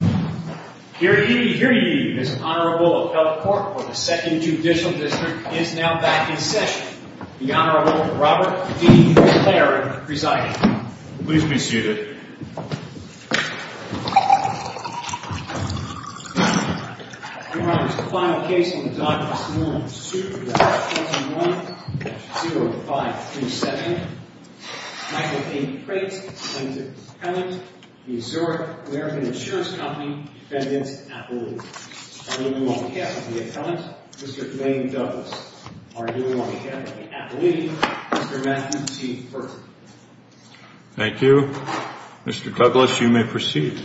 Hear ye, hear ye, this Honorable Appellate Court of the Second Judicial District is now back in session. The Honorable Robert D. McLaren presiding. Please be seated. Your Honor, this is the final case on the Dodd-Wilson-Moran suit. That's 21-0537. Michael D. Prate, defendant's appellant. The Zurich American Insurance Company, defendant's appellate. Arguing on behalf of the appellant, Mr. Dwayne Douglas. Arguing on behalf of the appellate, Mr. Matthew T. Burton. Thank you. Mr. Douglas, you may proceed.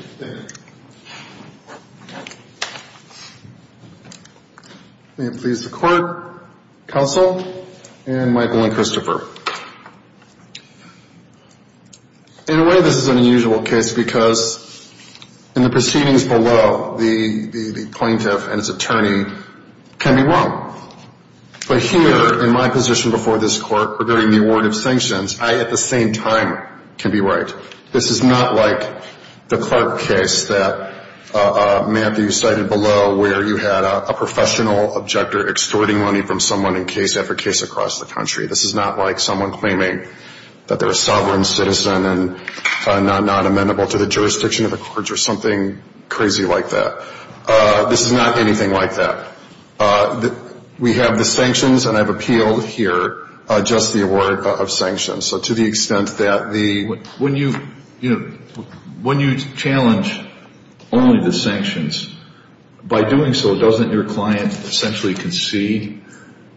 May it please the Court, Counsel, and Michael and Christopher. In a way, this is an unusual case because in the proceedings below, the plaintiff and his attorney can be wrong. But here, in my position before this Court, regarding the award of sanctions, I at the same time can be right. This is not like the Clark case that Matthew cited below where you had a professional objector extorting money from someone in case after case across the country. This is not like someone claiming that they're a sovereign citizen and not amenable to the jurisdiction of the courts or something crazy like that. This is not anything like that. We have the sanctions, and I've appealed here just the award of sanctions. So to the extent that the — When you challenge only the sanctions, by doing so, doesn't your client essentially concede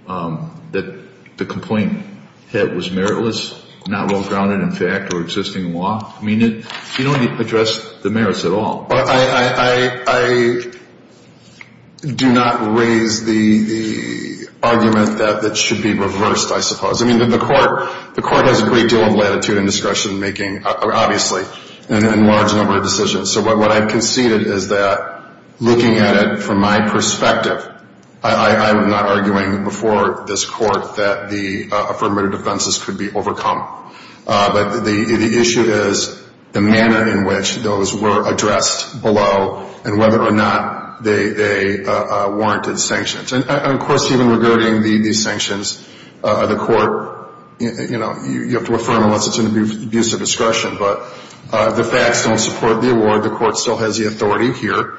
that the complaint was meritless, not well-grounded in fact or existing law? I mean, you don't address the merits at all. I do not raise the argument that it should be reversed, I suppose. I mean, the Court has a great deal of latitude and discretion making, obviously, and a large number of decisions. So what I've conceded is that looking at it from my perspective, I'm not arguing before this Court that the affirmative defenses could be overcome. But the issue is the manner in which those were addressed below and whether or not they warranted sanctions. And, of course, even regarding the sanctions, the Court — you know, you have to affirm unless it's an abuse of discretion. But the facts don't support the award. The Court still has the authority here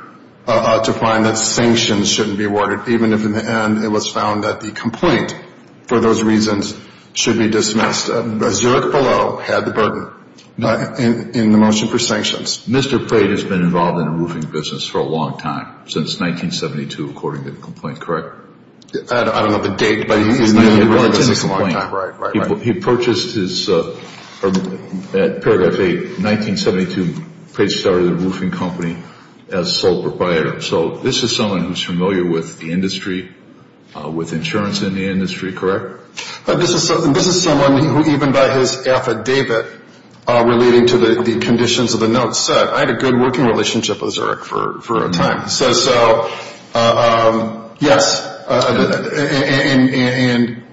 to find that sanctions shouldn't be awarded, even if in the end it was found that the complaint, for those reasons, should be dismissed. Zurich below had the burden in the motion for sanctions. Mr. Prate has been involved in the roofing business for a long time, since 1972, according to the complaint, correct? I don't know the date, but he's been in the business a long time. He purchased his — at paragraph 8, 1972, Prate started a roofing company as sole proprietor. So this is someone who's familiar with the industry, with insurance in the industry, correct? This is someone who, even by his affidavit relating to the conditions of the note, said, I had a good working relationship with Zurich for a time. So, yes, and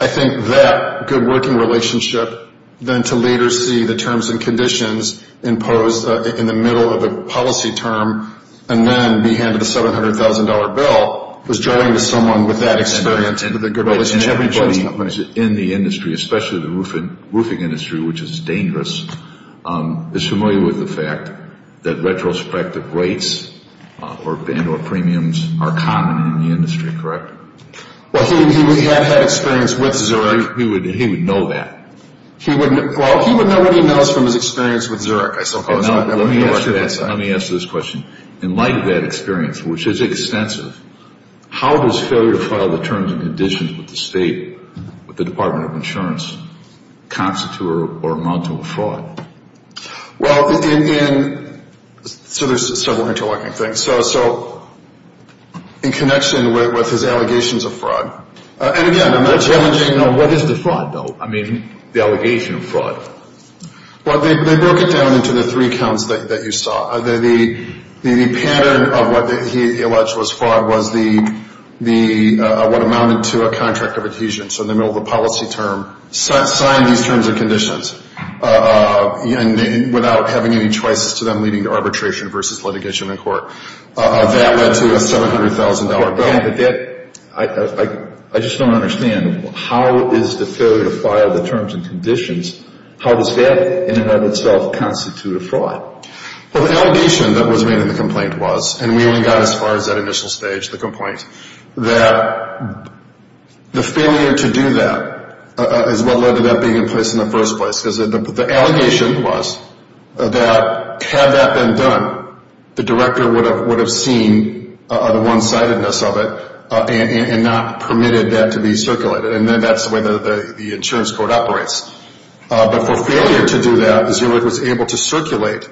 I think that good working relationship, then to later see the terms and conditions imposed in the middle of a policy term, and then be handed a $700,000 bill, was drawing to someone with that experience with a good relationship. Everybody in the industry, especially the roofing industry, which is dangerous, is familiar with the fact that retrospective rates and or premiums are common in the industry, correct? Well, he would have had experience with Zurich. He would know that. Well, he would know what he knows from his experience with Zurich. Let me ask you this question. In light of that experience, which is extensive, how does failure to file the terms and conditions with the State, with the Department of Insurance, constitute or amount to a fraud? Well, in, so there's several interlocking things. So, in connection with his allegations of fraud, and again, I'm not challenging. What is the fraud, though? I mean, the allegation of fraud. Well, they broke it down into the three counts that you saw. The pattern of what he alleged was fraud was what amounted to a contract of adhesion. So, in the middle of the policy term, signed these terms and conditions without having any choices to them leading to arbitration versus litigation in court. That led to a $700,000 bill. I just don't understand. How is the failure to file the terms and conditions, how does that in and of itself constitute a fraud? Well, the allegation that was made in the complaint was, and we only got as far as that initial stage of the complaint, that the failure to do that is what led to that being in place in the first place. Because the allegation was that had that been done, the director would have seen the one-sidedness of it and not permitted that to be circulated. And then that's the way the insurance court operates. But for failure to do that is if it was able to circulate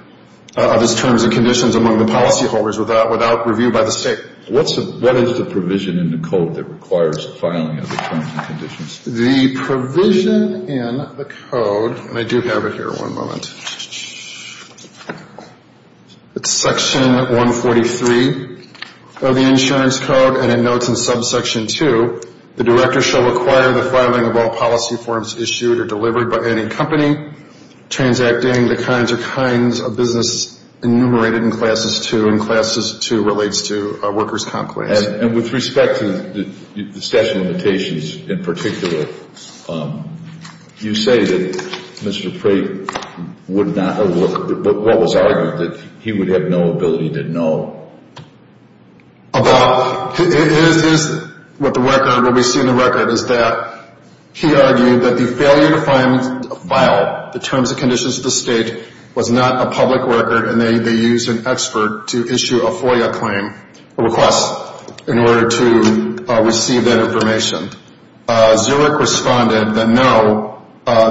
these terms and conditions among the policyholders without review by the state. What is the provision in the code that requires filing of the terms and conditions? The provision in the code, and I do have it here, one moment. It's section 143 of the insurance code, and it notes in subsection 2, the director shall require the filing of all policy forms issued or delivered by any company transacting the kinds or kinds of business enumerated in Classes 2, and Classes 2 relates to workers' comp claims. And with respect to the statute of limitations in particular, you say that Mr. Prate would not have looked at the book. What was argued that he would have no ability to know? What we see in the record is that he argued that the failure to file the terms and conditions of the state was not a public record, and they used an expert to issue a FOIA claim, a request, in order to receive that information. Zurich responded that, no,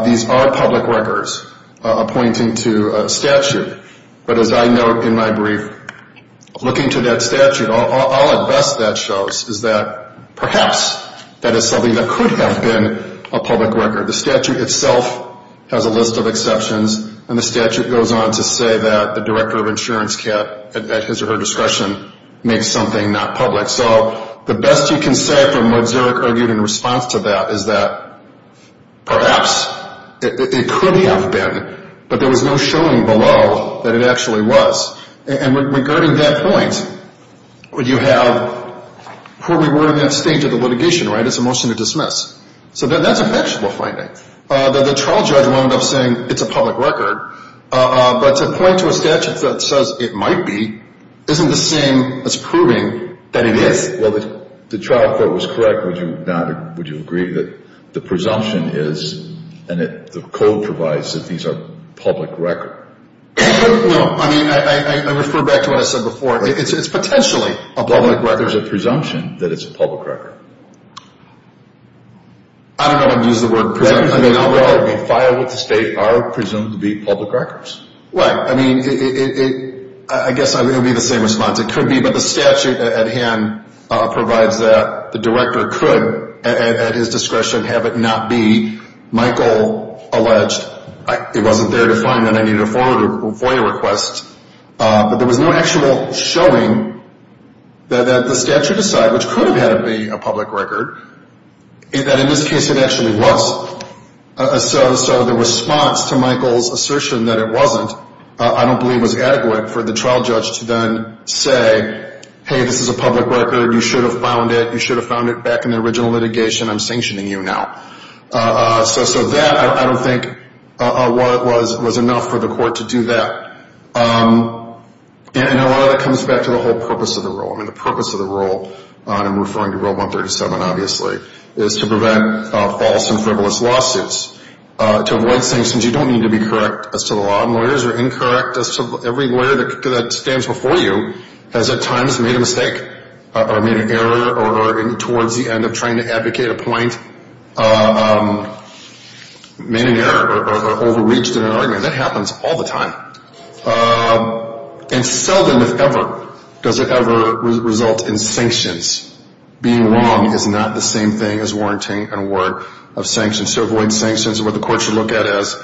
these are public records pointing to a statute. But as I note in my brief, looking to that statute, all at best that shows is that perhaps that is something that could have been a public record. The statute itself has a list of exceptions, and the statute goes on to say that the director of insurance can't, at his or her discretion, make something not public. So the best you can say from what Zurich argued in response to that is that perhaps it could have been, but there was no showing below that it actually was. And regarding that point, you have where we were in that stage of the litigation, right? It's a motion to dismiss. So that's a factual finding. The trial judge wound up saying it's a public record. But to point to a statute that says it might be isn't the same as proving that it is. Well, if the trial court was correct, would you agree that the presumption is, and that the code provides that these are public records? No. I mean, I refer back to what I said before. It's potentially a public record. Well, there's a presumption that it's a public record. I don't know if I'm going to use the word presumption. We filed with the state are presumed to be public records. Right. I mean, I guess it would be the same response. It could be, but the statute at hand provides that the director could, at his discretion, have it not be. Michael alleged it wasn't there to find that I needed a FOIA request. But there was no actual showing that the statute aside, which could have had it be a public record, that in this case it actually was. So the response to Michael's assertion that it wasn't, I don't believe, was adequate for the trial judge to then say, hey, this is a public record. You should have found it. You should have found it back in the original litigation. I'm sanctioning you now. So that, I don't think, was enough for the court to do that. And a lot of that comes back to the whole purpose of the rule. I mean, the purpose of the rule, and I'm referring to Rule 137, obviously, is to prevent false and frivolous lawsuits, to avoid sanctions. You don't need to be correct as to the law. Lawyers are incorrect. Every lawyer that stands before you has at times made a mistake or made an error or towards the end of trying to advocate a point made an error or overreached in an argument. That happens all the time. And seldom, if ever, does it ever result in sanctions. Being wrong is not the same thing as warranting an award of sanctions. So avoid sanctions. What the court should look at is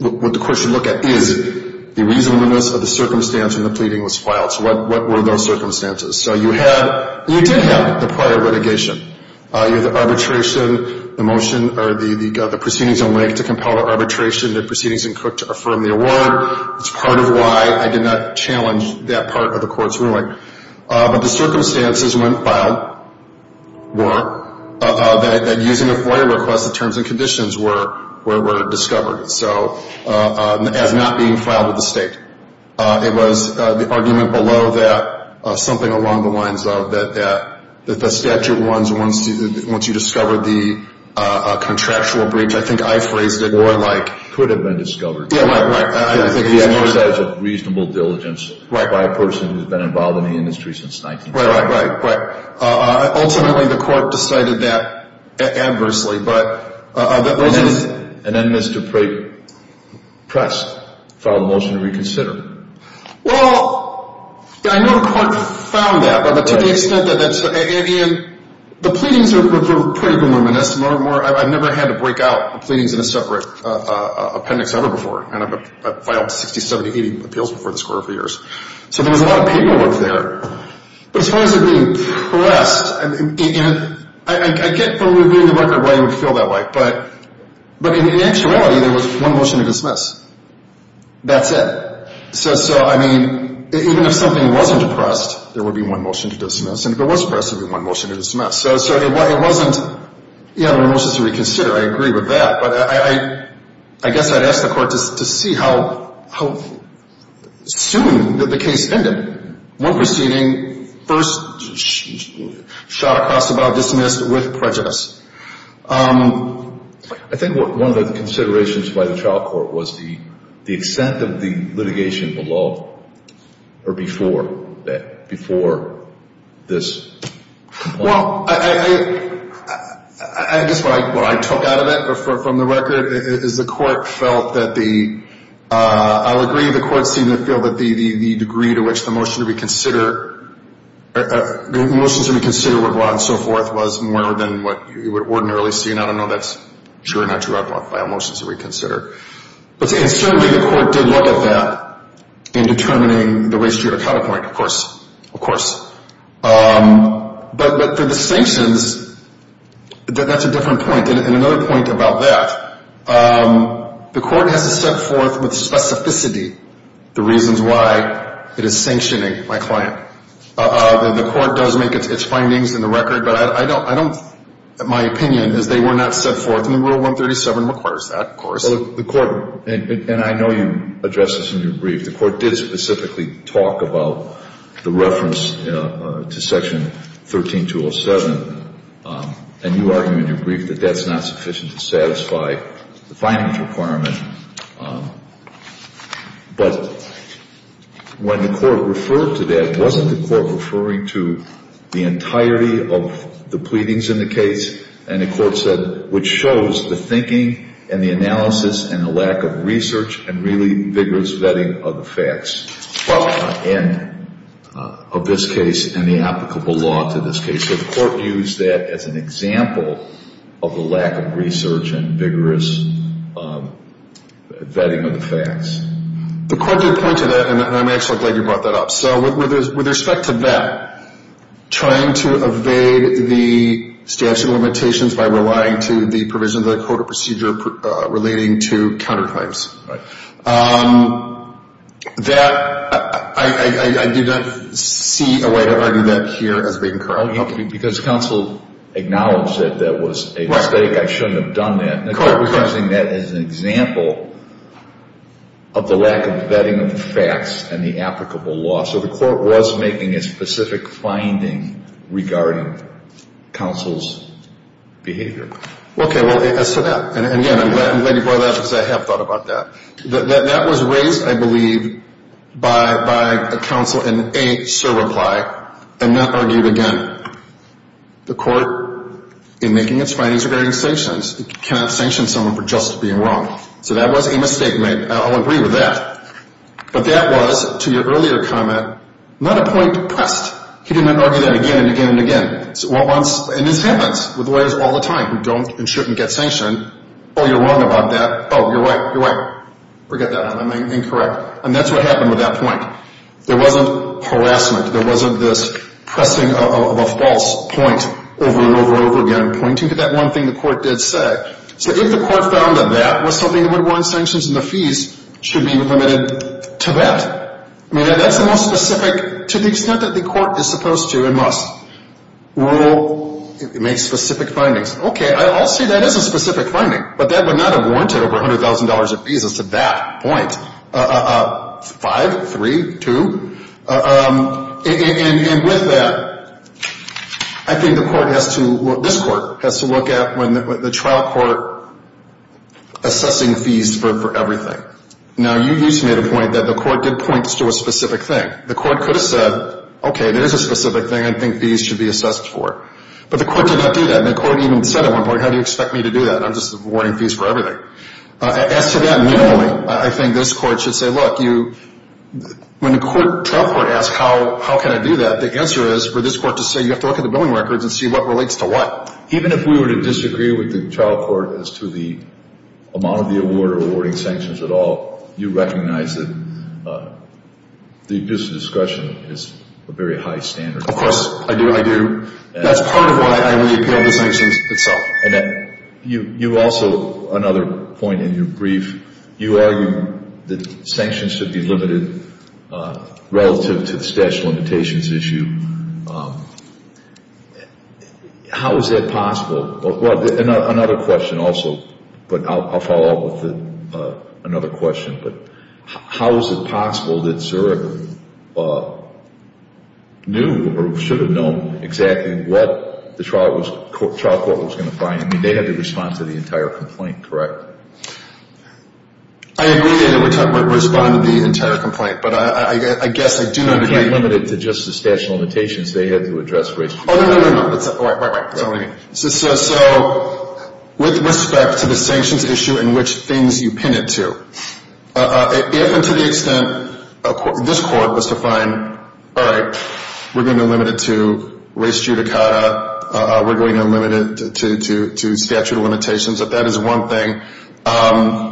the reasonableness of the circumstance in the pleading was filed. So what were those circumstances? So you had, you did have the prior litigation. You had the arbitration, the motion, or the proceedings in Wake to compel the arbitration, the proceedings in Cook to affirm the award. It's part of why I did not challenge that part of the court's ruling. But the circumstances when filed were that using a FOIA request, the terms and conditions were discovered. So, as not being filed with the state. It was the argument below that something along the lines of that the statute runs once you discover the contractual breach. I think I phrased it more like could have been discovered. Yeah, right, right. I didn't think it was. The exercise of reasonable diligence by a person who's been involved in the industry since 1905. Right, right, right, right. Ultimately, the court decided that adversely. And then Mr. Press filed a motion to reconsider. Well, I know the court found that. But to the extent that that's, and the pleadings are pretty voluminous. I've never had to break out the pleadings in a separate appendix ever before. And I've filed 60, 70, 80 appeals before this court a few years. So there was a lot of paperwork there. But as far as it being pressed, I get from reviewing the record why you would feel that way. But in actuality, there was one motion to dismiss. That's it. So, I mean, even if something wasn't pressed, there would be one motion to dismiss. And if it was pressed, there would be one motion to dismiss. So it wasn't, yeah, there were motions to reconsider. I agree with that. But I guess I'd ask the court to see how soon did the case end up. One proceeding, first shot across the bow, dismissed with prejudice. I think one of the considerations by the trial court was the extent of the litigation below or before that, before this. Well, I guess what I took out of it from the record is the court felt that the, I'll agree, the court seemed to feel that the degree to which the motion to reconsider, motions to reconsider were brought and so forth was more than what you would ordinarily see. And I don't know if that's true or not true. I don't know if I have motions to reconsider. But certainly the court did look at that in determining the ways to your counterpoint, of course. Of course. But the distinctions, that's a different point. And another point about that, the court has to set forth with specificity the reasons why it is sanctioning my client. The court does make its findings in the record. But I don't, my opinion is they were not set forth. And Rule 137 requires that, of course. The court, and I know you addressed this in your brief, the court did specifically talk about the reference to Section 13207. And you argued in your brief that that's not sufficient to satisfy the findings requirement. But when the court referred to that, wasn't the court referring to the entirety of the pleadings in the case? And the court said, which shows the thinking and the analysis and the lack of research and really vigorous vetting of the facts. And of this case and the applicable law to this case. Did the court use that as an example of the lack of research and vigorous vetting of the facts? The court did point to that, and I'm actually glad you brought that up. So with respect to that, trying to evade the statute of limitations by relying to the provision of the code of procedure relating to counterclaims. That, I didn't see a way to argue that here as being correct. Because counsel acknowledged that that was a mistake. I shouldn't have done that. The court was using that as an example of the lack of vetting of the facts and the applicable law. So the court was making a specific finding regarding counsel's behavior. Okay, well, as to that, and again, I'm glad you brought that up because I have thought about that. That was raised, I believe, by counsel in a surreply and not argued again. The court, in making its findings regarding sanctions, cannot sanction someone for just being wrong. So that was a mistake. I'll agree with that. But that was, to your earlier comment, not a point pressed. He didn't argue that again and again and again. And this happens with lawyers all the time who don't and shouldn't get sanctioned. Oh, you're wrong about that. Oh, you're right, you're right. Forget that. I'm incorrect. And that's what happened with that point. There wasn't harassment. There wasn't this pressing of a false point over and over and over again pointing to that one thing the court did say. So if the court found that that was something that would warrant sanctions and the fees should be limited to that. That's the most specific, to the extent that the court is supposed to and must, rule, make specific findings. Okay, I'll say that is a specific finding, but that would not have warranted over $100,000 of fees as to that point. Five, three, two. And with that, I think the court has to, this court has to look at the trial court assessing fees for everything. Now, you used to make a point that the court did point to a specific thing. The court could have said, okay, there is a specific thing I think fees should be assessed for. But the court did not do that. And the court even said at one point, how do you expect me to do that? I'm just awarding fees for everything. As to that, normally, I think this court should say, look, when the trial court asks how can I do that, the answer is for this court to say you have to look at the billing records and see what relates to what. Now, even if we were to disagree with the trial court as to the amount of the award or awarding sanctions at all, you recognize that the abuse of discretion is a very high standard. Of course, I do. I do. That's part of why I would appeal the sanctions itself. And you also, another point in your brief, you argue that sanctions should be limited relative to the statute of limitations issue. How is that possible? Well, another question also, but I'll follow up with another question. But how is it possible that Zurich knew or should have known exactly what the trial court was going to find? I mean, they had to respond to the entire complaint, correct? I agree that they would have to respond to the entire complaint. You can't limit it to just the statute of limitations. They had to address race. Oh, no, no, no. That's not what I mean. So with respect to the sanctions issue and which things you pin it to, if and to the extent this court was to find, all right, we're going to limit it to race judicata, we're going to limit it to statute of limitations, if that is one thing.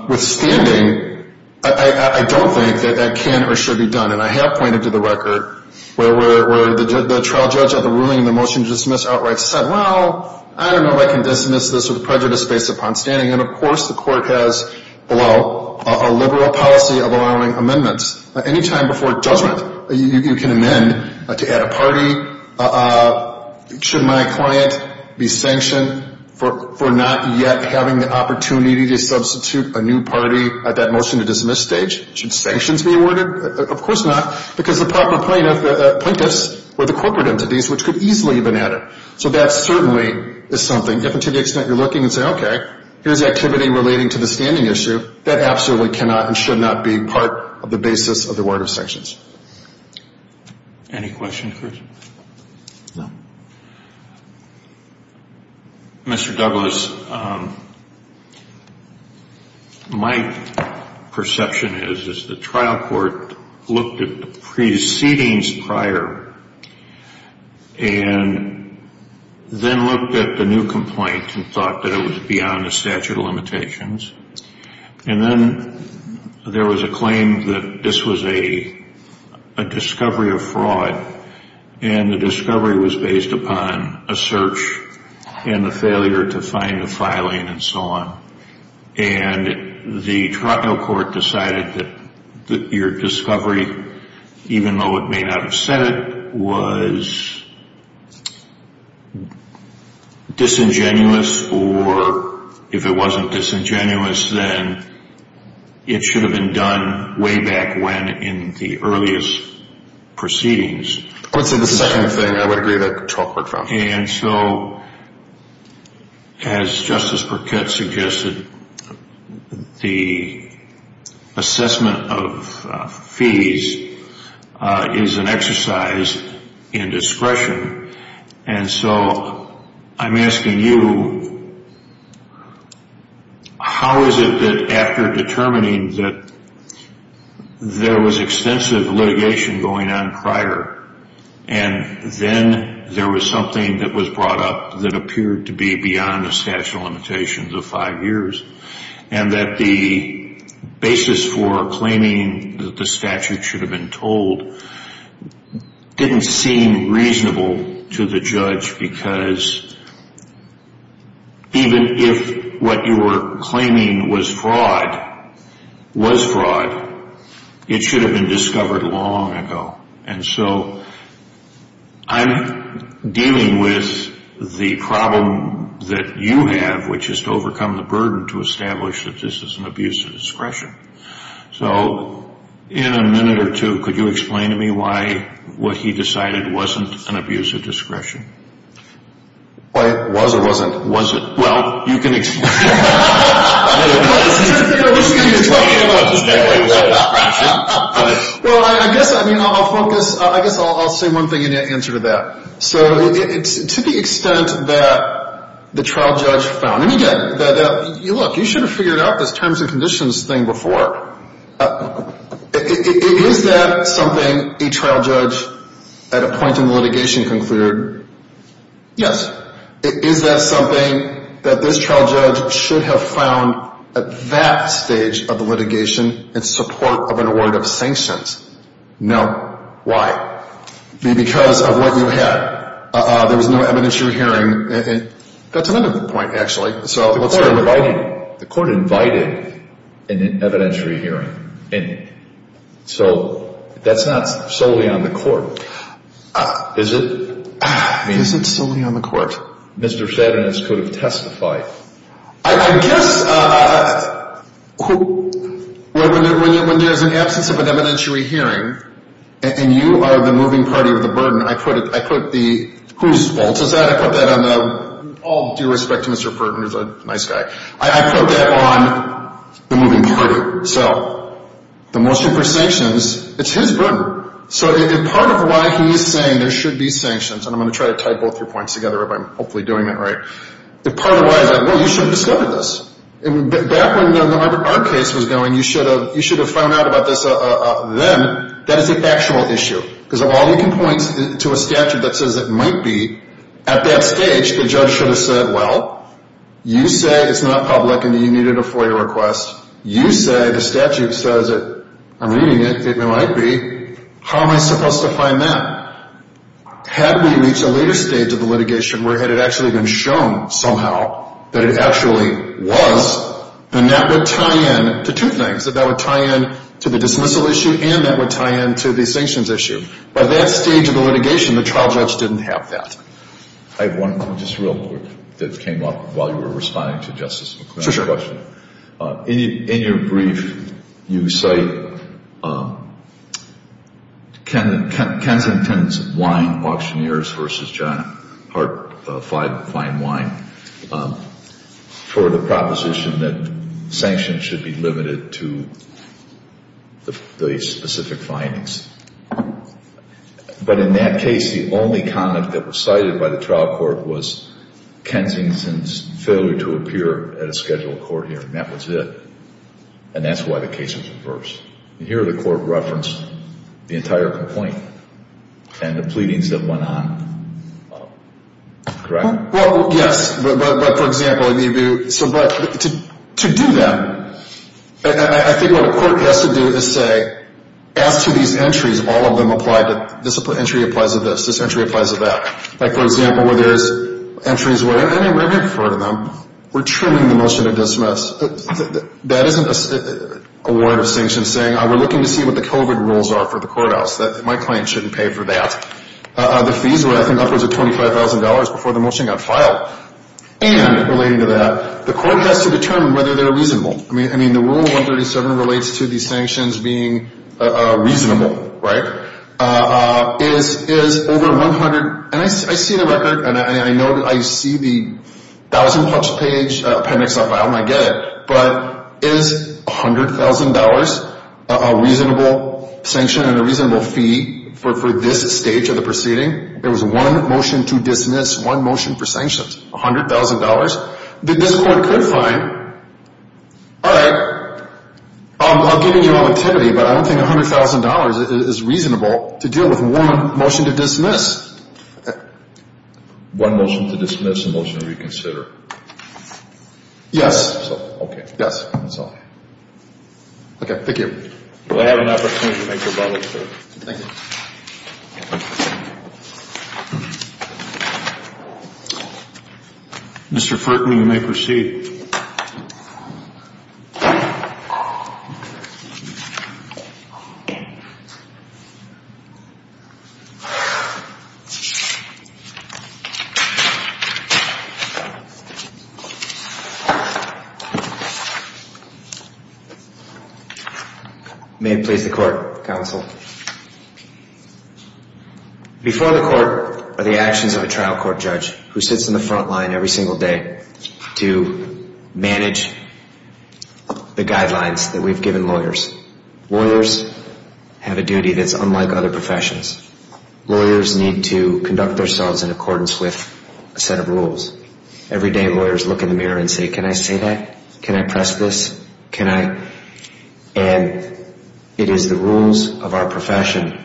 Withstanding, I don't think that that can or should be done. And I have pointed to the record where the trial judge at the ruling in the motion to dismiss outright said, well, I don't know if I can dismiss this with prejudice based upon standing. And, of course, the court has below a liberal policy of allowing amendments. Any time before judgment, you can amend to add a party. Should my client be sanctioned for not yet having the opportunity to substitute a new party at that motion to dismiss stage? Should sanctions be awarded? Of course not, because the proper plaintiffs were the corporate entities, which could easily have been added. So that certainly is something. If and to the extent you're looking and say, okay, here's activity relating to the standing issue, that absolutely cannot and should not be part of the basis of the word of sanctions. Any questions, Chris? No. Mr. Douglas, my perception is, is the trial court looked at the precedings prior and then looked at the new complaint and thought that it was beyond the statute of limitations. And then there was a claim that this was a discovery of fraud, and the discovery was based upon a search and the failure to find the filing and so on. And the trial court decided that your discovery, even though it may not have said it, was disingenuous, or if it wasn't disingenuous, then it should have been done way back when in the earliest proceedings. I would say the second thing I would agree that the trial court found. And so as Justice Burkett suggested, the assessment of fees is an exercise in discretion. And so I'm asking you, how is it that after determining that there was extensive litigation going on prior and then there was something that was brought up that appeared to be beyond the statute of limitations of five years, and that the basis for claiming that the statute should have been told didn't seem reasonable to the judge because even if what you were claiming was fraud, was fraud, it should have been discovered long ago. And so I'm dealing with the problem that you have, which is to overcome the burden to establish that this is an abuse of discretion. So in a minute or two, could you explain to me why what he decided wasn't an abuse of discretion? Why it was or wasn't? Well, you can explain. Well, I guess I'll say one thing in answer to that. So to the extent that the trial judge found. And again, look, you should have figured out this terms and conditions thing before. Is that something a trial judge at a point in litigation concluded? Yes. Is that something that this trial judge should have found at that stage of the litigation in support of an award of sanctions? No. Why? Because of what you had. There was no evidentiary hearing. That's another point, actually. The court invited an evidentiary hearing. So that's not solely on the court, is it? It isn't solely on the court. Mr. Seddon could have testified. I guess when there's an absence of an evidentiary hearing and you are the moving party of the burden, I put the whose fault is that? I put that on the all due respect to Mr. Burton, who's a nice guy. I put that on the moving party. So the motion for sanctions, it's his burden. So part of why he's saying there should be sanctions, and I'm going to try to tie both your points together if I'm hopefully doing it right. Part of why is that, well, you should have discovered this. Back when our case was going, you should have found out about this then. That is a factual issue. Because while you can point to a statute that says it might be, at that stage, the judge should have said, well, you say it's not public and you needed a FOIA request. You say the statute says it. I'm reading it. It might be. How am I supposed to find that? Had we reached a later stage of the litigation where it had actually been shown somehow that it actually was, then that would tie in to two things. That that would tie in to the dismissal issue and that would tie in to the sanctions issue. By that stage of the litigation, the trial judge didn't have that. I have one, just real quick, that came up while you were responding to Justice McClendon's question. Sure. In your brief, you cite Kensington's Wine Auctioneers v. John Hart Fine Wine for the proposition that sanctions should be limited to the specific findings. But in that case, the only comment that was cited by the trial court was Kensington's failure to appear at a scheduled court hearing. That was it. And that's why the case was reversed. And here the court referenced the entire complaint and the pleadings that went on. Correct? Well, yes. But, for example, to do that, I think what a court has to do is say, as to these entries, all of them apply. This entry applies to this. This entry applies to that. Like, for example, where there's entries where, and I may refer to them, we're trimming the motion to dismiss. That isn't a warrant of sanction saying, we're looking to see what the COVID rules are for the courthouse. My client shouldn't pay for that. The fees were, I think, upwards of $25,000 before the motion got filed. And, relating to that, the court has to determine whether they're reasonable. I mean, the Rule 137 relates to these sanctions being reasonable, right? Is over $100,000, and I see the record, and I see the 1,000-plus page appendix not filed, and I get it. But is $100,000 a reasonable sanction and a reasonable fee for this stage of the proceeding? There was one motion to dismiss, one motion for sanctions. $100,000. This court could find, all right, I'm giving you all the tinnity, but I don't think $100,000 is reasonable to deal with one motion to dismiss. One motion to dismiss, a motion to reconsider. Yes. Okay. Yes. Okay. Thank you. We'll have an opportunity to make your budget clear. Thank you. Thank you. Mr. Frick, you may proceed. Thank you. May it please the court, counsel. Before the court are the actions of a trial court judge who sits in the front line every single day to manage the guidelines that we've given lawyers. Lawyers have a duty that's unlike other professions. Lawyers need to conduct themselves in accordance with a set of rules. Every day lawyers look in the mirror and say, can I say that? Can I press this? And it is the rules of our profession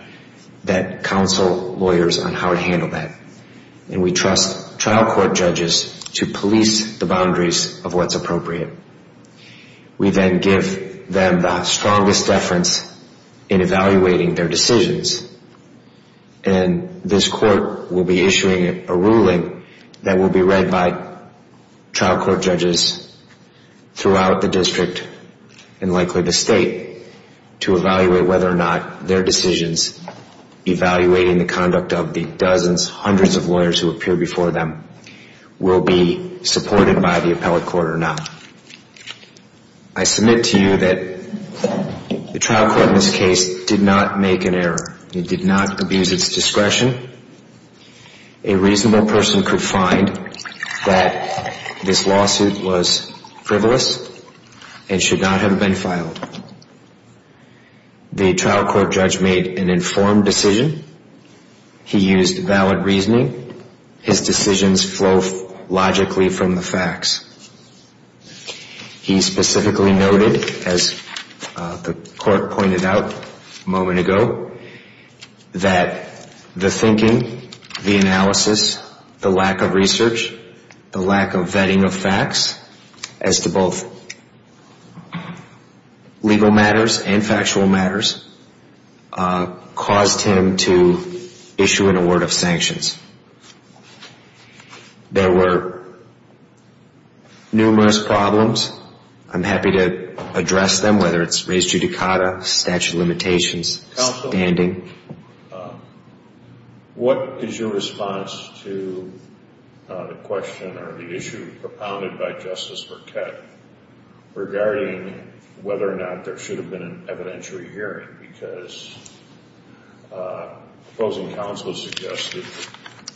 that counsel lawyers on how to handle that. And we trust trial court judges to police the boundaries of what's appropriate. We then give them the strongest deference in evaluating their decisions. And this court will be issuing a ruling that will be read by trial court judges throughout the district and likely the state to evaluate whether or not their decisions, evaluating the conduct of the dozens, hundreds of lawyers who appear before them, will be supported by the appellate court or not. I submit to you that the trial court in this case did not make an error. It did not abuse its discretion. A reasonable person could find that this lawsuit was frivolous and should not have been filed. The trial court judge made an informed decision. He used valid reasoning. His decisions flow logically from the facts. He specifically noted, as the court pointed out a moment ago, that the thinking, the analysis, the lack of research, the lack of vetting of facts as to both legal matters and factual matters, caused him to issue an award of sanctions. There were numerous problems. I'm happy to address them, whether it's race judicata, statute of limitations, standing. Counsel, what is your response to the question or the issue propounded by Justice Burkett regarding whether or not there should have been an evidentiary hearing? Because the proposing counsel suggested,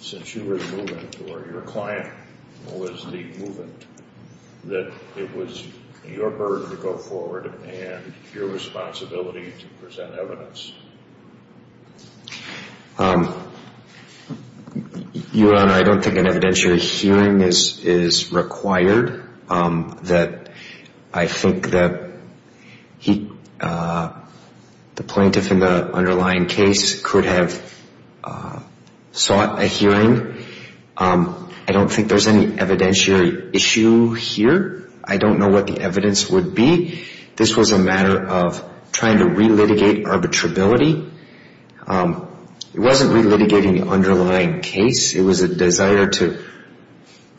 since you were the movement or your client was the movement, that it was your burden to go forward and your responsibility to present evidence. Your Honor, I don't think an evidentiary hearing is required. I think that the plaintiff in the underlying case could have sought a hearing. I don't think there's any evidentiary issue here. I don't know what the evidence would be. This was a matter of trying to re-litigate arbitrability. It wasn't re-litigating the underlying case. It was a desire to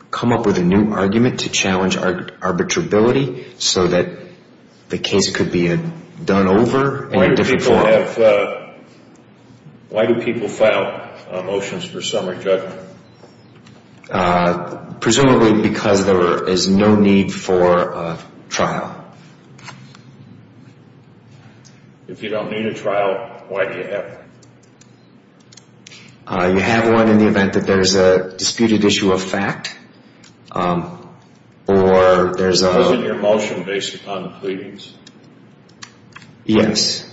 come up with a new argument to challenge arbitrability so that the case could be done over in a different form. Why do people file motions for summary judgment? Presumably because there is no need for a trial. If you don't need a trial, why do you have one? You have one in the event that there's a disputed issue of fact or there's a... Isn't your motion based upon the pleadings? Yes.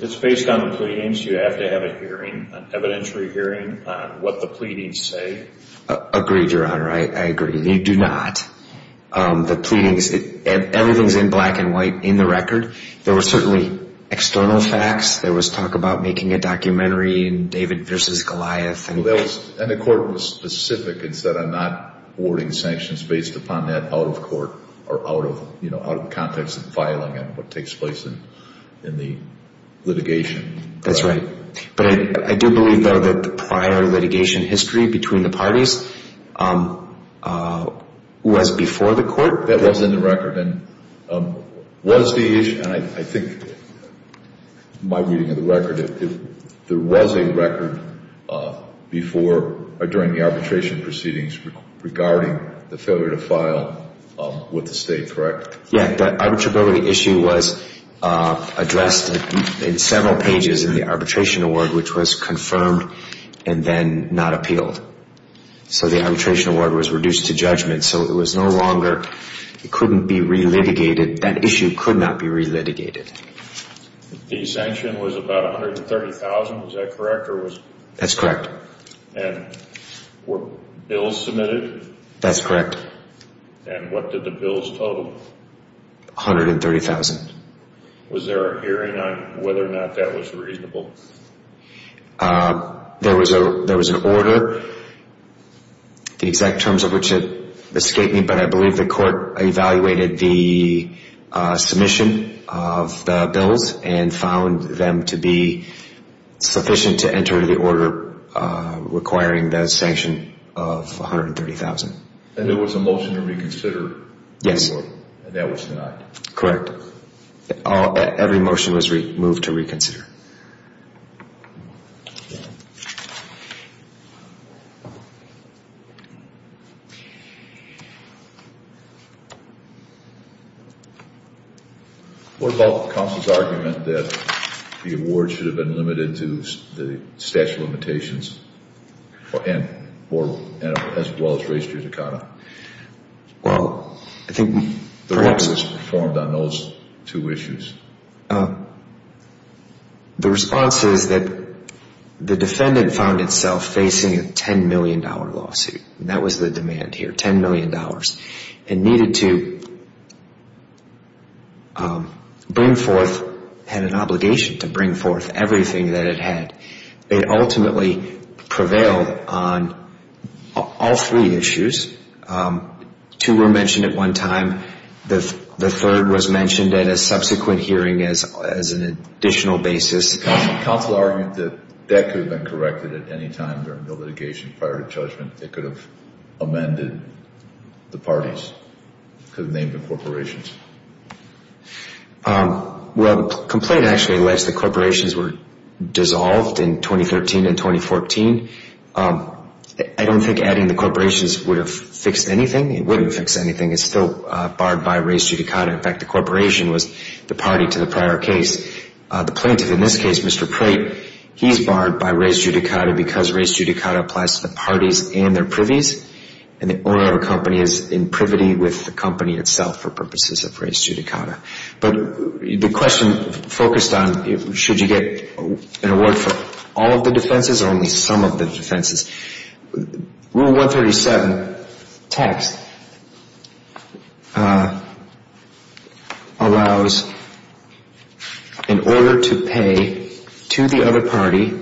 It's based on the pleadings. You have to have a hearing, an evidentiary hearing on what the pleadings say. Agreed, Your Honor. I agree. You do not. The pleadings, everything's in black and white in the record. There were certainly external facts. There was talk about making a documentary in David versus Goliath. And the court was specific and said, I'm not awarding sanctions based upon that out of court or out of the context of filing and what takes place in the litigation. That's right. But I do believe, though, that the prior litigation history between the parties was before the court. That was in the record. And was the issue, and I think my reading of the record, there was a record before or during the arbitration proceedings regarding the failure to file with the state, correct? Yeah. That arbitrability issue was addressed in several pages in the arbitration award, which was confirmed and then not appealed. So the arbitration award was reduced to judgment. So it was no longer, it couldn't be relitigated. That issue could not be relitigated. The sanction was about $130,000, is that correct? That's correct. And were bills submitted? That's correct. And what did the bills total? $130,000. Was there a hearing on whether or not that was reasonable? There was an order. The exact terms of which escaped me, but I believe the court evaluated the submission of the bills and found them to be sufficient to enter the order requiring the sanction of $130,000. And there was a motion to reconsider? Yes. And that was denied? Correct. Every motion was moved to reconsider. Thank you. What about the counsel's argument that the award should have been limited to the statute of limitations and as well as race-jurisdiction? Well, I think perhaps. What was performed on those two issues? The response is that the defendant found itself facing a $10 million lawsuit. That was the demand here, $10 million. It needed to bring forth, had an obligation to bring forth everything that it had. It ultimately prevailed on all three issues. Two were mentioned at one time. The third was mentioned at a subsequent hearing as an additional basis. Counsel argued that that could have been corrected at any time during the litigation prior to judgment. It could have amended the parties, could have named the corporations. Well, the complaint actually alleged the corporations were dissolved in 2013 and 2014. I don't think adding the corporations would have fixed anything. It wouldn't have fixed anything. It's still barred by race judicata. In fact, the corporation was the party to the prior case. The plaintiff in this case, Mr. Prate, he's barred by race judicata because race judicata applies to the parties and their privies. And the owner of a company is in privity with the company itself for purposes of race judicata. But the question focused on should you get an award for all of the defenses or only some of the defenses? Rule 137 text allows in order to pay to the other party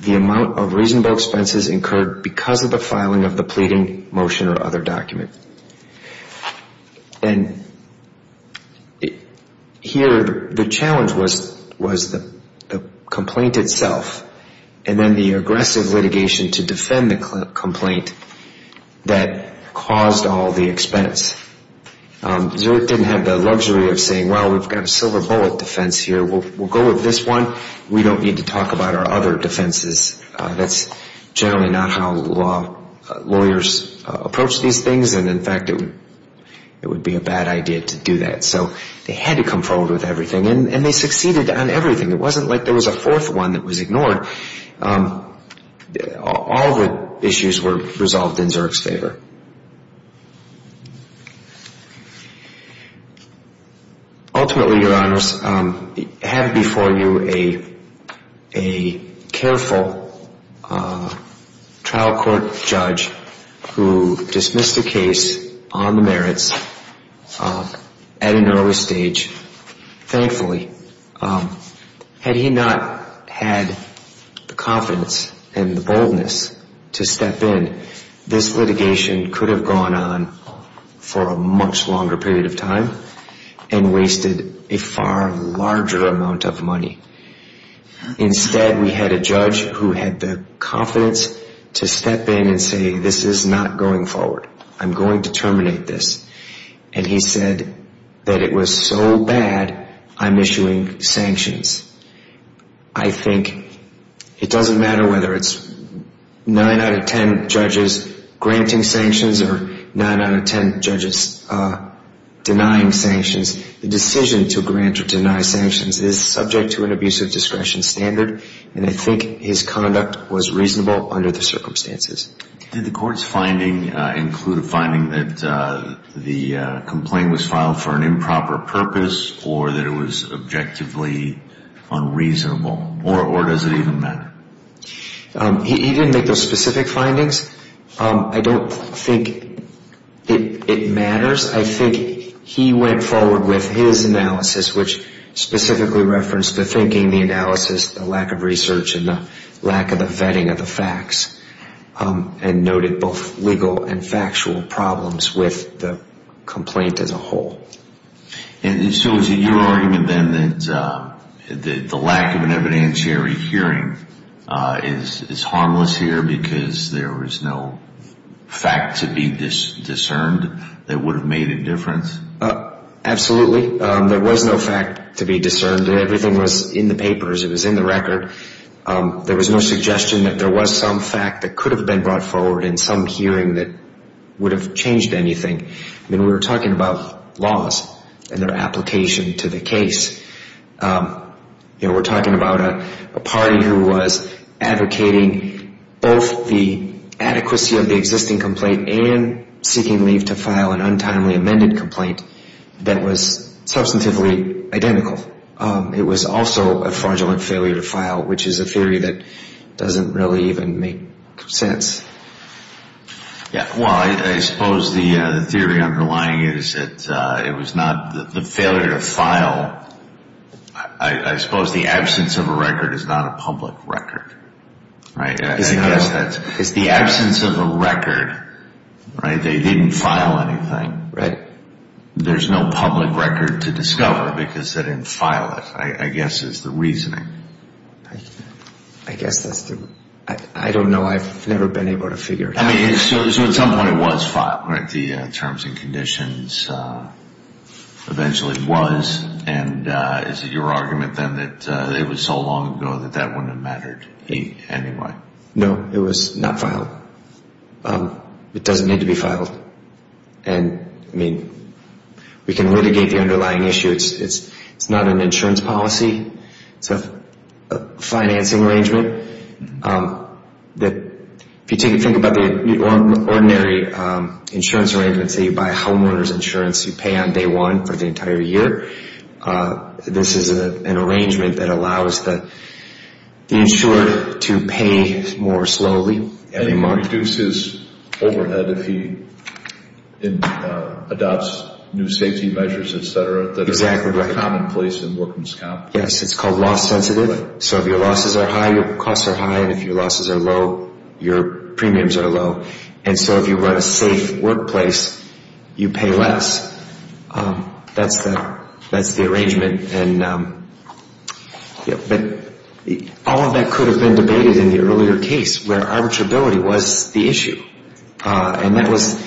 the amount of reasonable expenses incurred because of the filing of the pleading, motion, or other document. And here the challenge was the complaint itself and then the aggressive litigation to defend the complaint that caused all the expense. Zurich didn't have the luxury of saying, well, we've got a silver bullet defense here. We'll go with this one. We don't need to talk about our other defenses. That's generally not how lawyers approach these things. And, in fact, it would be a bad idea to do that. So they had to come forward with everything. And they succeeded on everything. It wasn't like there was a fourth one that was ignored. All the issues were resolved in Zurich's favor. Ultimately, Your Honors, having before you a careful trial court judge who dismissed a case on the merits at an early stage, thankfully, had he not had the confidence and the boldness to step in, this litigation would not have been possible. This litigation could have gone on for a much longer period of time and wasted a far larger amount of money. Instead, we had a judge who had the confidence to step in and say, this is not going forward. I'm going to terminate this. And he said that it was so bad, I'm issuing sanctions. I think it doesn't matter whether it's 9 out of 10 judges granting sanctions or 9 out of 10 judges denying sanctions. The decision to grant or deny sanctions is subject to an abuse of discretion standard. And I think his conduct was reasonable under the circumstances. Did the court's finding include a finding that the complaint was filed for an improper purpose or that it was objectively unreasonable? Or does it even matter? He didn't make those specific findings. I don't think it matters. I think he went forward with his analysis, which specifically referenced the thinking, the analysis, the lack of research, and the lack of the vetting of the facts, and noted both legal and factual problems with the complaint as a whole. So is it your argument, then, that the lack of an evidentiary hearing is harmless here because there was no fact to be discerned that would have made a difference? Absolutely. There was no fact to be discerned. Everything was in the papers. It was in the record. There was no suggestion that there was some fact that could have been brought forward in some hearing that would have changed anything. I mean, we were talking about laws and their application to the case. You know, we're talking about a party who was advocating both the adequacy of the existing complaint and seeking leave to file an untimely amended complaint that was substantively identical. It was also a fraudulent failure to file, which is a theory that doesn't really even make sense. Yeah. Well, I suppose the theory underlying it is that it was not the failure to file. I suppose the absence of a record is not a public record, right? I guess that's… It's the absence of a record, right? They didn't file anything. Right. There's no public record to discover because they didn't file it, I guess, is the reasoning. I guess that's the… I don't know. I've never been able to figure it out. I mean, so at some point it was filed, right? The terms and conditions eventually was. And is it your argument then that it was so long ago that that wouldn't have mattered anyway? No, it was not filed. It doesn't need to be filed. And, I mean, we can litigate the underlying issue. It's not an insurance policy. It's a financing arrangement. If you think about the ordinary insurance arrangements, say you buy a homeowner's insurance, you pay on day one for the entire year. This is an arrangement that allows the insurer to pay more slowly every month. It reduces overhead if he adopts new safety measures, et cetera, that are commonplace in workman's comp. Yes, it's called loss sensitive. So if your losses are high, your costs are high. And if your losses are low, your premiums are low. And so if you run a safe workplace, you pay less. That's the arrangement. But all of that could have been debated in the earlier case where arbitrability was the issue. And that was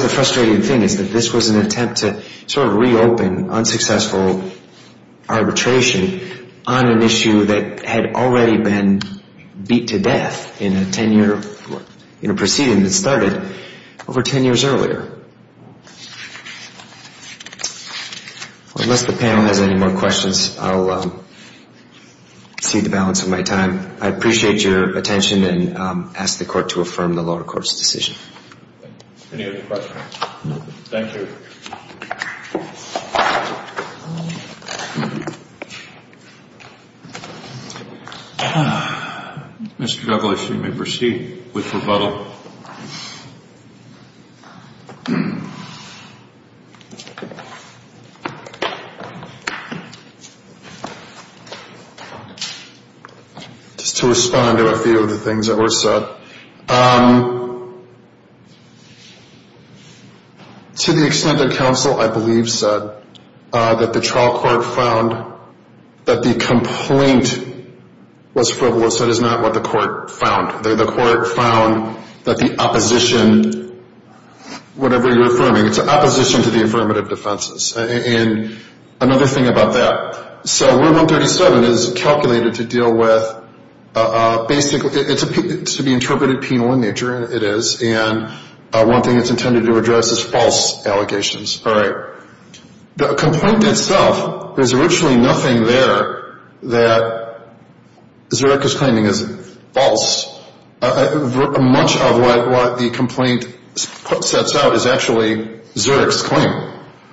the frustrating thing is that this was an attempt to sort of reopen unsuccessful arbitration on an issue that had already been beat to death in a 10-year proceeding that started over 10 years earlier. Unless the panel has any more questions, I'll cede the balance of my time. I appreciate your attention and ask the Court to affirm the lower court's decision. Any other questions? Thank you. Mr. Douglas, you may proceed with rebuttal. Thank you. Just to respond to a few of the things that were said. To the extent that counsel, I believe, said that the trial court found that the complaint was frivolous, that is not what the court found. The court found that the opposition, whatever you're affirming, it's opposition to the affirmative defenses. And another thing about that, so Rule 137 is calculated to deal with basically, it's to be interpreted penal in nature, it is. And one thing it's intended to address is false allegations. All right. The complaint itself, there's originally nothing there that Zurich is claiming is false. Much of what the complaint sets out is actually Zurich's claim.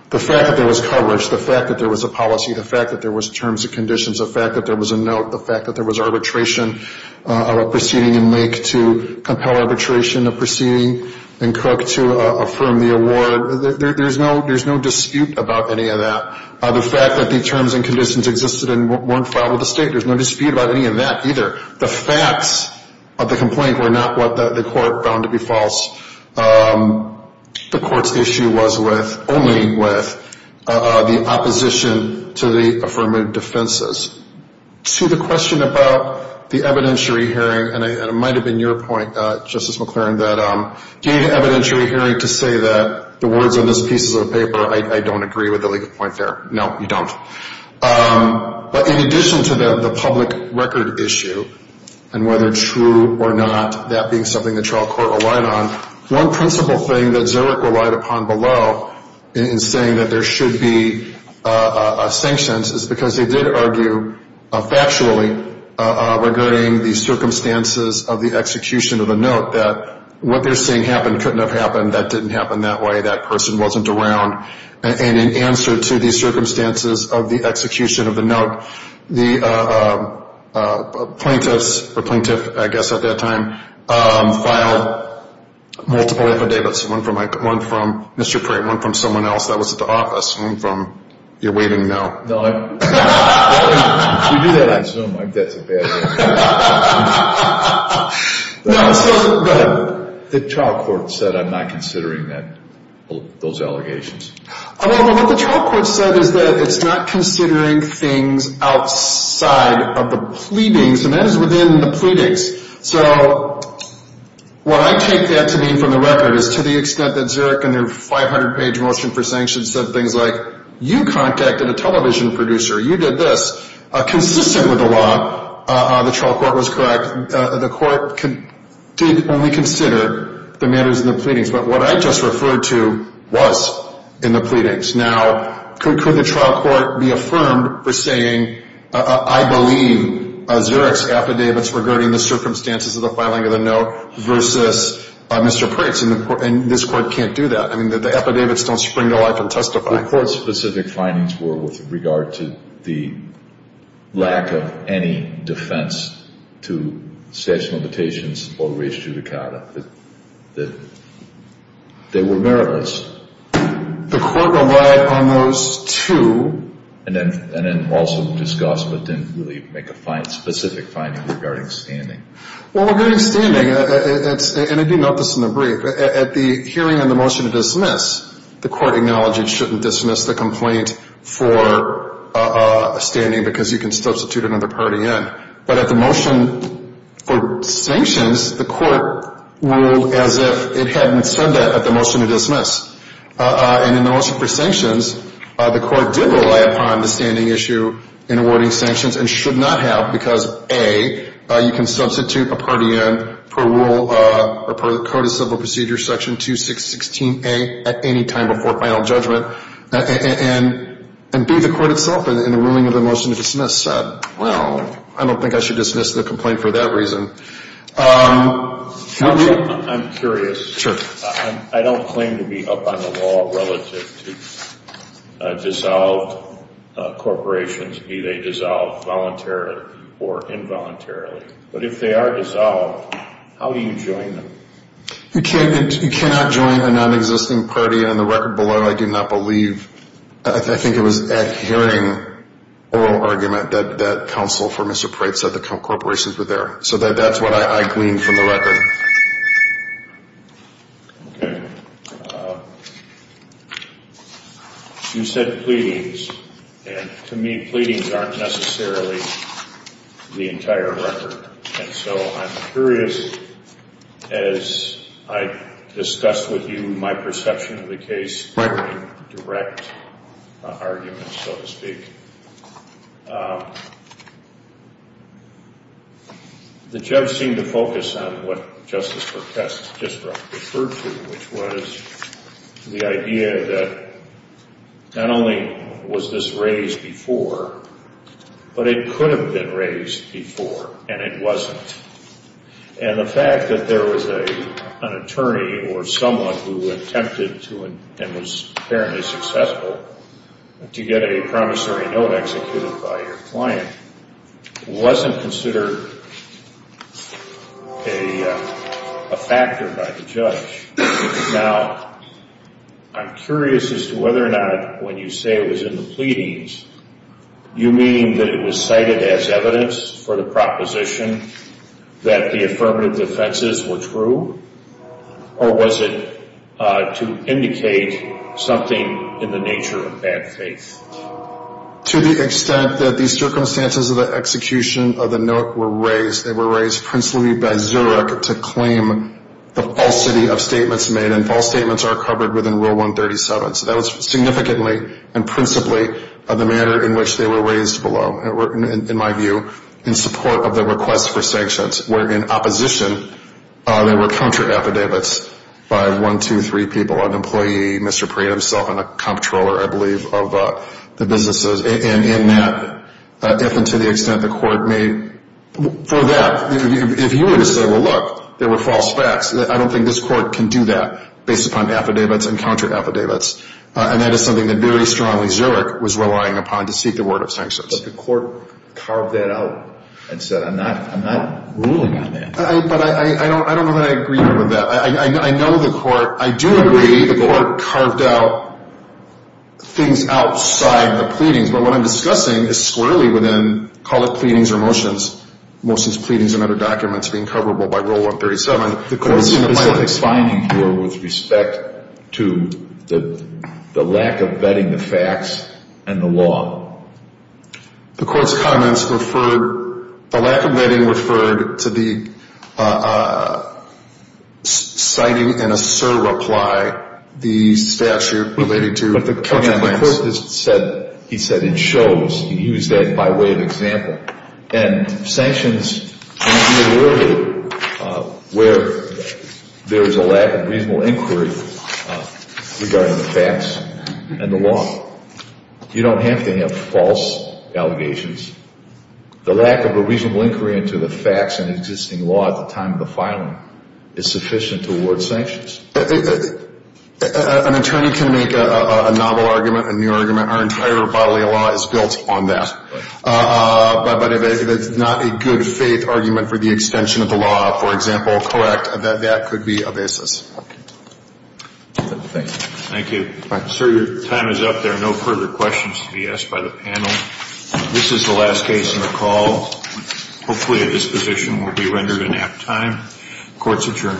The fact that there was coverage, the fact that there was a policy, the fact that there was terms and conditions, the fact that there was a note, the fact that there was arbitration of a proceeding in Lake to compel arbitration of proceeding, to affirm the award, there's no dispute about any of that. The fact that the terms and conditions existed and weren't filed with the state, there's no dispute about any of that either. The facts of the complaint were not what the court found to be false. The court's issue was only with the opposition to the affirmative defenses. To the question about the evidentiary hearing, and it might have been your point, Justice McClaren, that the evidentiary hearing to say that the words on this piece of paper, I don't agree with the legal point there. No, you don't. But in addition to the public record issue and whether true or not, that being something the trial court relied on, one principle thing that Zurich relied upon below in saying that there should be sanctions is because they did argue factually regarding the circumstances of the execution of the note that what they're saying happened couldn't have happened, that didn't happen that way, that person wasn't around. And in answer to the circumstances of the execution of the note, the plaintiffs, or plaintiff I guess at that time, filed multiple affidavits, one from Mr. Pratt, one from someone else that was at the office, one from you're waiting to know. If you do that on Zoom, that's a bad thing. No, but the trial court said I'm not considering those allegations. What the trial court said is that it's not considering things outside of the pleadings, and that is within the pleadings. So what I take that to mean from the record is to the extent that Zurich in their 500-page motion for sanctions said things like, you contacted a television producer, you did this. Consistent with the law, the trial court was correct. The court did only consider the matters in the pleadings. But what I just referred to was in the pleadings. Now, could the trial court be affirmed for saying, I believe Zurich's affidavits regarding the circumstances of the filing of the note versus Mr. Pratt's? And this court can't do that. I mean, the affidavits don't spring to life and testify. The court's specific findings were with regard to the lack of any defense to statute of limitations or res judicata, that they were meritless. The court relied on those two. And then also discussed but didn't really make a specific finding regarding standing. Well, regarding standing, and I do note this in the brief, at the hearing on the motion to dismiss, the court acknowledged it shouldn't dismiss the complaint for standing because you can substitute another party in. But at the motion for sanctions, the court ruled as if it hadn't said that at the motion to dismiss. And in the motion for sanctions, the court did rely upon the standing issue in awarding sanctions and should not have because, A, you can substitute a party in per rule or per the Code of Civil Procedure, Section 2616A, at any time before final judgment. And, B, the court itself in the ruling of the motion to dismiss said, well, I don't think I should dismiss the complaint for that reason. I'm curious. Sure. I don't claim to be up on the law relative to dissolved corporations, be they dissolved voluntarily or involuntarily. But if they are dissolved, how do you join them? You cannot join a nonexisting party. On the record below, I do not believe. I think it was at hearing oral argument that counsel for Mr. Preitz said the corporations were there. So that's what I gleaned from the record. Okay. You said pleadings. And to me, pleadings aren't necessarily the entire record. And so I'm curious, as I discussed with you my perception of the case, direct arguments, so to speak. The judge seemed to focus on what Justice Perkess just referred to, which was the idea that not only was this raised before, but it could have been raised before, and it wasn't. And the fact that there was an attorney or someone who attempted to and was apparently successful to get a promissory note executed by your client wasn't considered a factor by the judge. Now, I'm curious as to whether or not when you say it was in the pleadings, you mean that it was cited as evidence for the proposition that the affirmative defenses were true? Or was it to indicate something in the nature of bad faith? To the extent that the circumstances of the execution of the note were raised, they were raised principally by Zurich to claim the falsity of statements made, and false statements are covered within Rule 137. So that was significantly and principally the manner in which they were raised below, in my view, in support of the request for sanctions. Where in opposition, there were counter-affidavits by one, two, three people, an employee, Mr. Preet himself, and a comptroller, I believe, of the businesses. And in that, if and to the extent the court may, for that, if you were to say, well, look, there were false facts, I don't think this court can do that based upon affidavits and counter-affidavits. And that is something that very strongly Zurich was relying upon to seek the word of sanctions. But the court carved that out and said, I'm not ruling on that. But I don't know that I agree with that. I know the court, I do agree the court carved out things outside the pleadings. But what I'm discussing is squarely within, call it pleadings or motions, motions, pleadings, and other documents being coverable by Rule 137. The court's specific finding here with respect to the lack of vetting the facts and the law. The court's comments referred, the lack of vetting referred to the citing in a surreply the statute relating to the counter-plaints. The court has said, he said it shows, he used that by way of example. And sanctions can be avoided where there is a lack of reasonable inquiry regarding the facts and the law. You don't have to have false allegations. The lack of a reasonable inquiry into the facts and existing law at the time of the filing is sufficient to award sanctions. An attorney can make a novel argument, a new argument. Our entire bodily law is built on that. But if it's not a good faith argument for the extension of the law, for example, correct, that that could be a basis. Thank you. Thank you. Sir, your time is up. There are no further questions to be asked by the panel. This is the last case in the call. Hopefully at this position we'll be rendered in apt time. Court's adjourned.